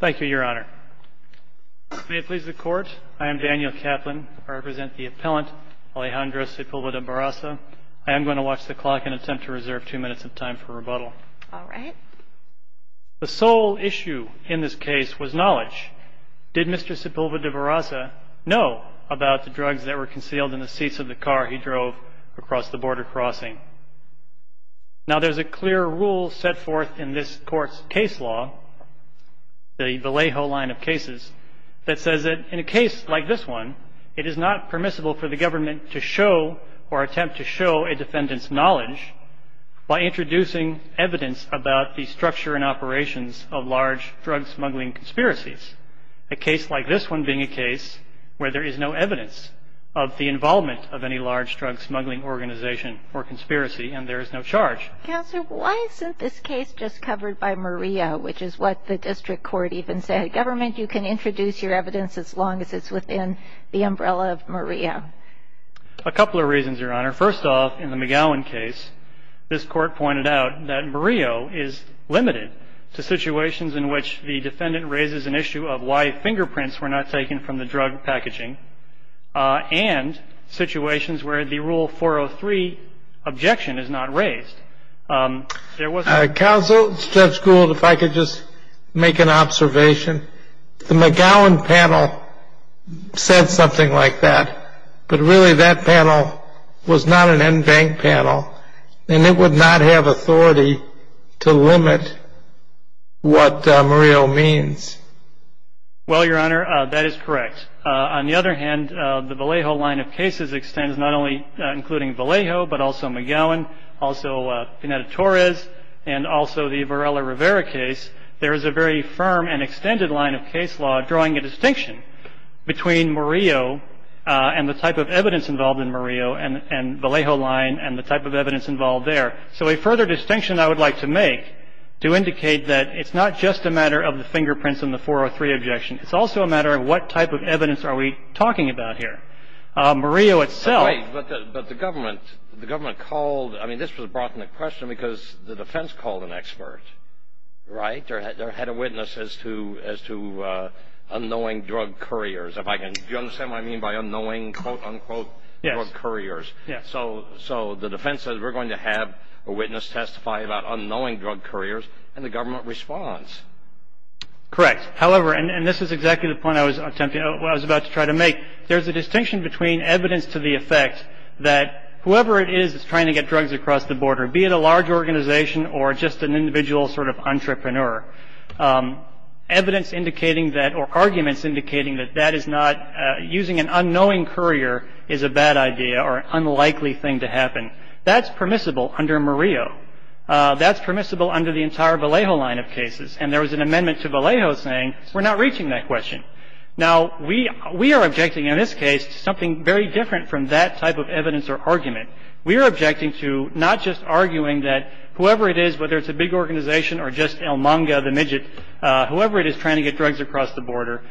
Thank you, your honor. May it please the court, I am Daniel Kaplan. I represent the appellant Alejandro Sepulveda-Barraza. I am going to watch the clock and attempt to reserve two minutes of time for rebuttal. All right. The sole issue in this case was knowledge. Did Mr. Sepulveda-Barraza know about the drugs that were concealed in the seats of the car he drove across the border crossing? Now there's a clear rule set forth in this court's case law, the Vallejo line of cases, that says that in a case like this one, it is not permissible for the government to show or attempt to show a defendant's knowledge by introducing evidence about the structure and operations of large drug smuggling conspiracies. A case like this one being a case where there is no evidence of the involvement of any large drug smuggling organization or conspiracy, and there is no charge. Counsel, why isn't this case just covered by Murillo, which is what the district court even said? Government, you can introduce your evidence as long as it's within the umbrella of Murillo. First off, in the McGowan case, this court pointed out that Murillo is limited to situations in which the defendant raises an issue of why fingerprints were not taken from the drug packaging, and situations where the Rule 403 objection is not raised. Counsel, Judge Gould, if I could just make an observation. The McGowan panel said something like that, but really that panel was not an en banc panel, and it would not have authority to limit what Murillo means. Well, Your Honor, that is correct. On the other hand, the Vallejo line of cases extends not only including Vallejo, but also McGowan, also Pineda-Torres, and also the Varela-Rivera case. There is a very firm and extended line of case law drawing a distinction between Murillo and the type of evidence involved in Murillo, and Vallejo line and the type of evidence involved there. So a further distinction I would like to make to indicate that it's not just a matter of the fingerprints and the 403 objection. It's also a matter of what type of evidence are we talking about here. Murillo itself. But the government called, I mean, this was brought into question because the defense called an expert, right? There had a witness as to unknowing drug couriers. Do you understand what I mean by unknowing, quote, unquote, drug couriers? Yes. So the defense says we're going to have a witness testify about unknowing drug couriers, and the government responds. Correct. However, and this is exactly the point I was about to try to make, there's a distinction between evidence to the effect that whoever it is that's trying to get drugs across the border, be it a large organization or just an individual sort of entrepreneur, evidence indicating that or arguments indicating that that is not using an unknowing courier is a bad idea or unlikely thing to happen. That's permissible under Murillo. That's permissible under the entire Vallejo line of cases. And there was an amendment to Vallejo saying we're not reaching that question. Now, we are objecting in this case to something very different from that type of evidence or argument. We are objecting to not just arguing that whoever it is, whether it's a big organization or just El Manga, the midget, whoever it is trying to get drugs across the border,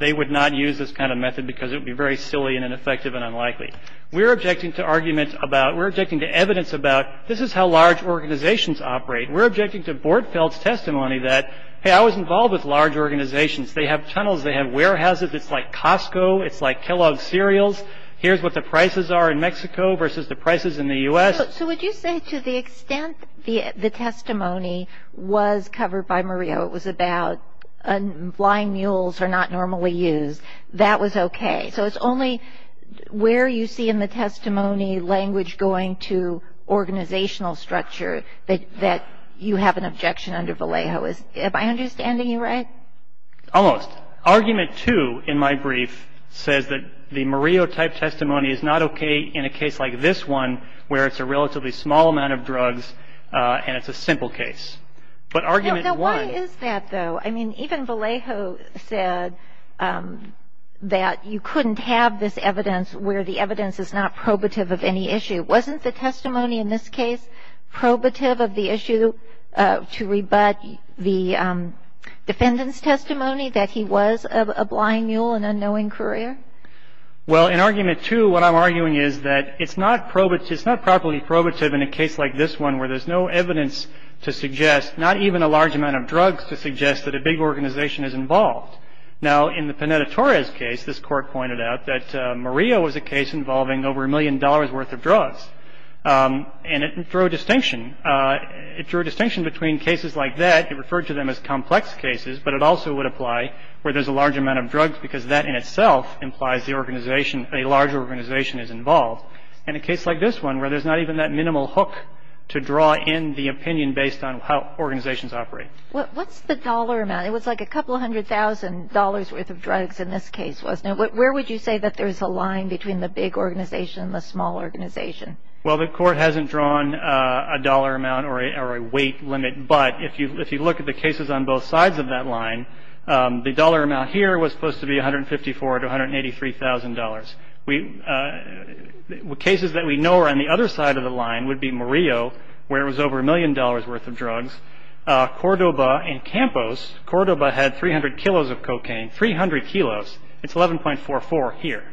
they would not use this kind of method because it would be very silly and ineffective and unlikely. We are objecting to arguments about we're objecting to evidence about this is how large organizations operate. We're objecting to Bordfeldt's testimony that, hey, I was involved with large organizations. They have tunnels. They have warehouses. It's like Costco. It's like Kellogg's cereals. Here's what the prices are in Mexico versus the prices in the U.S. So would you say to the extent the testimony was covered by Murillo, it was about flying mules are not normally used. That was okay. So it's only where you see in the testimony language going to organizational structure that you have an objection under Vallejo. Am I understanding you right? Almost. Argument two in my brief says that the Murillo type testimony is not okay in a case like this one where it's a relatively small amount of drugs and it's a simple case. But argument one. No, why is that, though? I mean, even Vallejo said that you couldn't have this evidence where the evidence is not probative of any issue. Wasn't the testimony in this case probative of the issue to rebut the defendant's testimony that he was a flying mule, an unknowing courier? Well, in argument two, what I'm arguing is that it's not probative, it's not properly probative in a case like this one where there's no evidence to suggest, not even a large amount of drugs to suggest that a big organization is involved. Now, in the Pineda-Torres case, this Court pointed out that Murillo was a case involving over a million dollars worth of drugs. And it drew a distinction. It drew a distinction between cases like that, it referred to them as complex cases, but it also would apply where there's a large amount of drugs because that in itself implies the organization, a large organization is involved. In a case like this one where there's not even that minimal hook to draw in the opinion based on how organizations operate. What's the dollar amount? It was like a couple hundred thousand dollars worth of drugs in this case, wasn't it? Where would you say that there's a line between the big organization and the small organization? Well, the Court hasn't drawn a dollar amount or a weight limit, but if you look at the cases on both sides of that line, the dollar amount here was supposed to be $154,000 to $183,000. Cases that we know are on the other side of the line would be Murillo, where it was over a million dollars worth of drugs. Cordoba and Campos. Cordoba had 300 kilos of cocaine, 300 kilos. It's 11.44 here.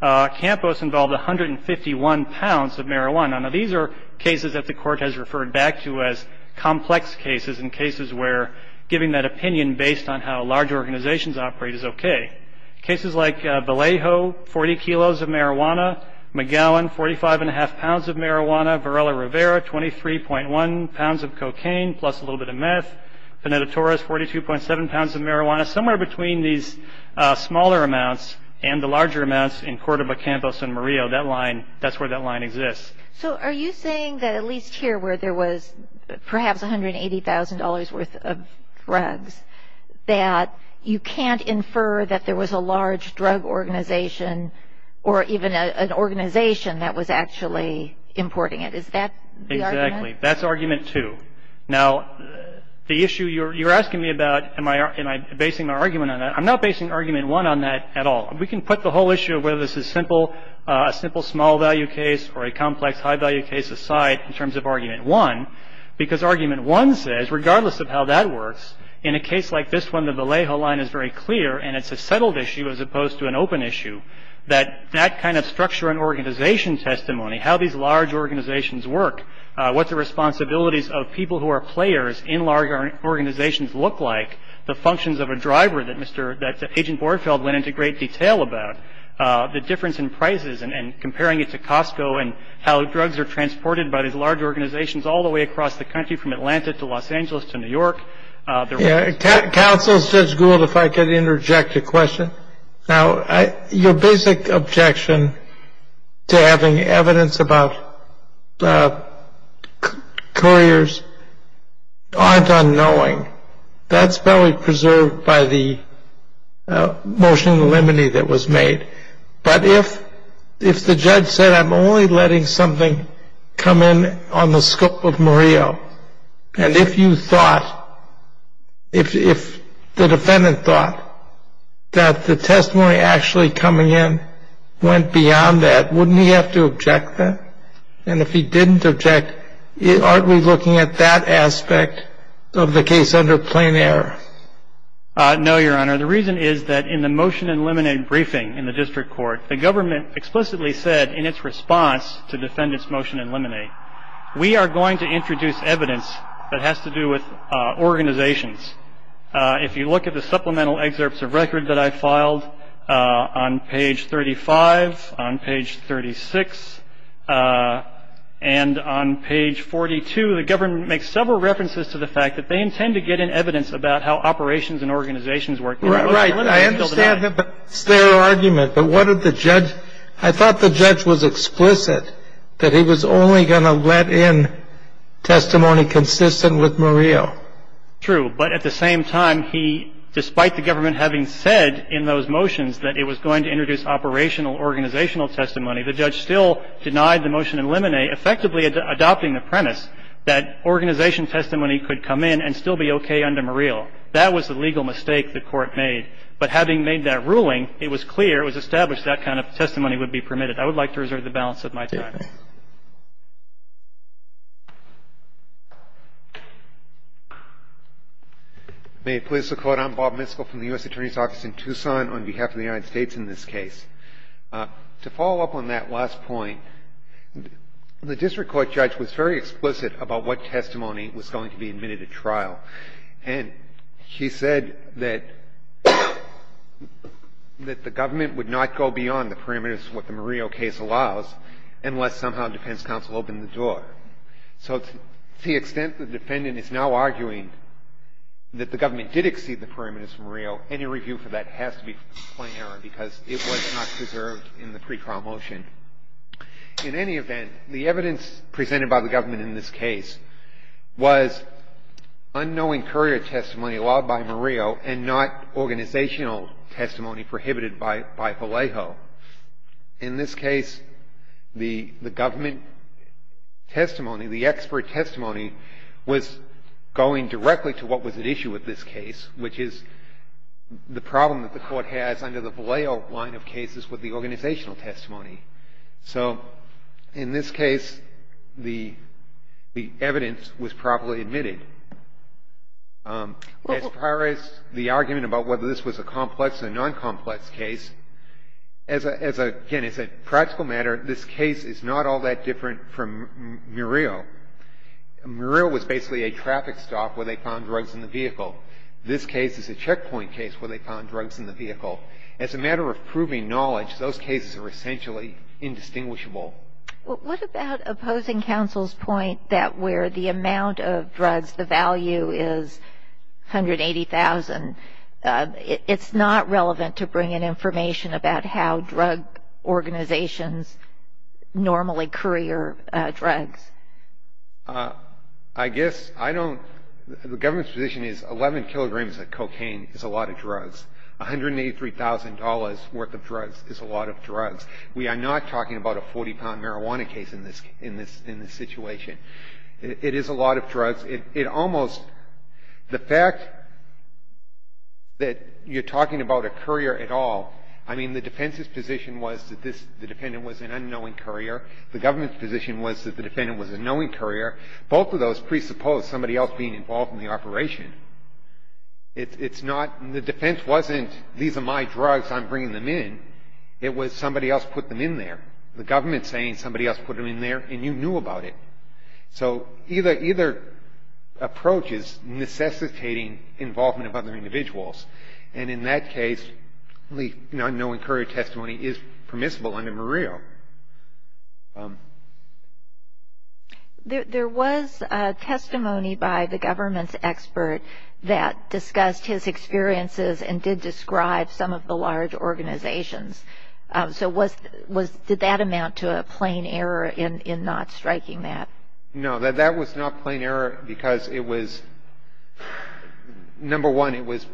Campos involved 151 pounds of marijuana. Now, these are cases that the Court has referred back to as complex cases and cases where giving that opinion based on how large organizations operate is okay. Cases like Vallejo, 40 kilos of marijuana. McGowan, 45 and a half pounds of marijuana. Varela-Rivera, 23.1 pounds of cocaine plus a little bit of meth. Pineda-Torres, 42.7 pounds of marijuana. Somewhere between these smaller amounts and the larger amounts in Cordoba, Campos, and Murillo, that line, that's where that line exists. So are you saying that at least here where there was perhaps $180,000 worth of drugs, that you can't infer that there was a large drug organization or even an organization that was actually importing it? Is that the argument? Exactly. That's argument two. Now, the issue you're asking me about, am I basing my argument on that? I'm not basing argument one on that at all. We can put the whole issue of whether this is a simple small value case or a complex high value case aside in terms of argument one because argument one says, regardless of how that works, in a case like this one, the Vallejo line is very clear and it's a settled issue as opposed to an open issue, that that kind of structure and organization testimony, how these large organizations work, what the responsibilities of people who are players in large organizations look like, the functions of a driver that Agent Borenfeld went into great detail about, the difference in prices and comparing it to Costco and how drugs are transported by these large organizations all the way across the country, from Atlanta to Los Angeles to New York. Counsel, Judge Gould, if I could interject a question. Now, your basic objection to having evidence about couriers aren't unknowing. That's probably preserved by the motion in the limine that was made. But if the judge said I'm only letting something come in on the scope of Murillo and if you thought, if the defendant thought that the testimony actually coming in went beyond that, wouldn't he have to object to that? And if he didn't object, aren't we looking at that aspect of the case under plain error? No, Your Honor. The reason is that in the motion in limine briefing in the district court, the government explicitly said in its response to defendant's motion in limine, we are going to introduce evidence that has to do with organizations. If you look at the supplemental excerpts of record that I filed on page 35, on page 36, and on page 42, the government makes several references to the fact that they intend to get in evidence about how operations and organizations work. Right. I understand their argument. But what did the judge – I thought the judge was explicit that he was only going to let in testimony consistent with Murillo. True. But at the same time, he – despite the government having said in those motions that it was going to introduce operational organizational testimony, the judge still denied the motion in limine effectively adopting the premise that organization testimony could come in and still be okay under Murillo. That was the legal mistake the Court made. But having made that ruling, it was clear, it was established that kind of testimony would be permitted. I would like to reserve the balance of my time. May it please the Court. I'm Bob Miskell from the U.S. Attorney's Office in Tucson on behalf of the United States in this case. To follow up on that last point, the district court judge was very explicit about what testimony was going to be admitted at trial. And he said that the government would not go beyond the parameters of what the Murillo case allows unless somehow defense counsel opened the door. So to the extent the defendant is now arguing that the government did exceed the parameters of Murillo, any review for that has to be plain error because it was not preserved in the pre-trial motion. In any event, the evidence presented by the government in this case was unknowing courier testimony allowed by Murillo and not organizational testimony prohibited by Vallejo. In this case, the government testimony, the expert testimony, was going directly to what was at issue with this case, which is the problem that the Court has under the Vallejo line of cases with the organizational testimony. So in this case, the evidence was properly admitted. As far as the argument about whether this was a complex or noncomplex case, as a, again, as a practical matter, this case is not all that different from Murillo. Murillo was basically a traffic stop where they found drugs in the vehicle. This case is a checkpoint case where they found drugs in the vehicle. As a matter of proving knowledge, those cases are essentially indistinguishable. What about opposing counsel's point that where the amount of drugs, the value is 180,000, it's not relevant to bring in information about how drug organizations normally courier drugs? I guess I don't, the government's position is 11 kilograms of cocaine is a lot of drugs. $183,000 worth of drugs is a lot of drugs. We are not talking about a 40-pound marijuana case in this situation. It is a lot of drugs. The fact that you're talking about a courier at all, I mean, the defense's position was that the defendant was an unknowing courier. The government's position was that the defendant was a knowing courier. Both of those presuppose somebody else being involved in the operation. It's not, the defense wasn't, these are my drugs, I'm bringing them in. It was somebody else put them in there. The government's saying somebody else put them in there, and you knew about it. So, either approach is necessitating involvement of other individuals. And in that case, the unknowing courier testimony is permissible under MREO. There was testimony by the government's expert that discussed his experiences and did describe some of the large organizations. So, was, did that amount to a plain error in not striking that? No, that was not plain error because it was, number one, it was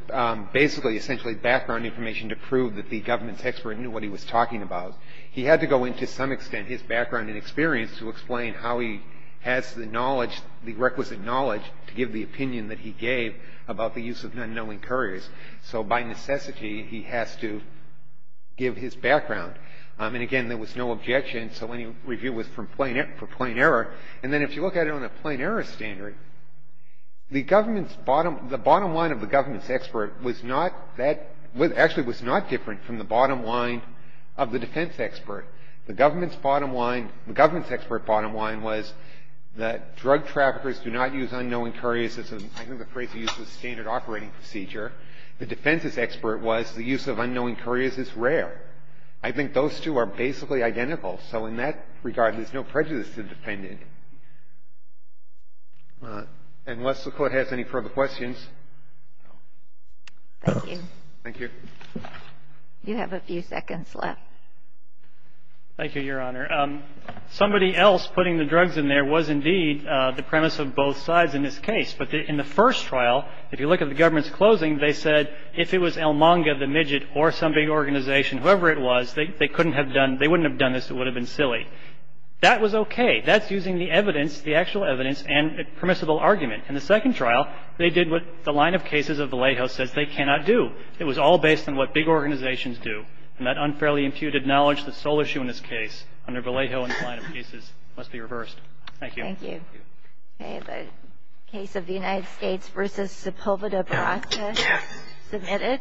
basically essentially background information to prove that the government's expert knew what he was talking about. He had to go into some extent his background and experience to explain how he has the knowledge, the requisite knowledge, to give the opinion that he gave about the use of unknowing couriers. So, by necessity, he has to give his background. And again, there was no objection, so any review was for plain error. And then if you look at it on a plain error standard, the government's bottom, the bottom line of the government's expert was not that, actually was not different from the bottom line of the defense expert. The government's bottom line, the government's expert bottom line was that drug traffickers do not use unknowing couriers as a, I think the phrase he used was standard operating procedure. The defense's expert was the use of unknowing couriers is rare. I think those two are basically identical. So, in that regard, there's no prejudice to the defendant. Unless the Court has any further questions. Thank you. Thank you. You have a few seconds left. Thank you, Your Honor. Somebody else putting the drugs in there was indeed the premise of both sides in this case. In the first trial, if you look at the government's closing, they said if it was El Manga, the midget, or some big organization, whoever it was, they couldn't have done, they wouldn't have done this. It would have been silly. That was okay. That's using the evidence, the actual evidence and permissible argument. In the second trial, they did what the line of cases of Vallejo says they cannot do. It was all based on what big organizations do. And that unfairly imputed knowledge, the sole issue in this case, under Vallejo and the line of cases, must be reversed. Thank you. Thank you. Thank you. Okay. The case of the United States v. Sepulveda, Baratheon. Submitted. Yes.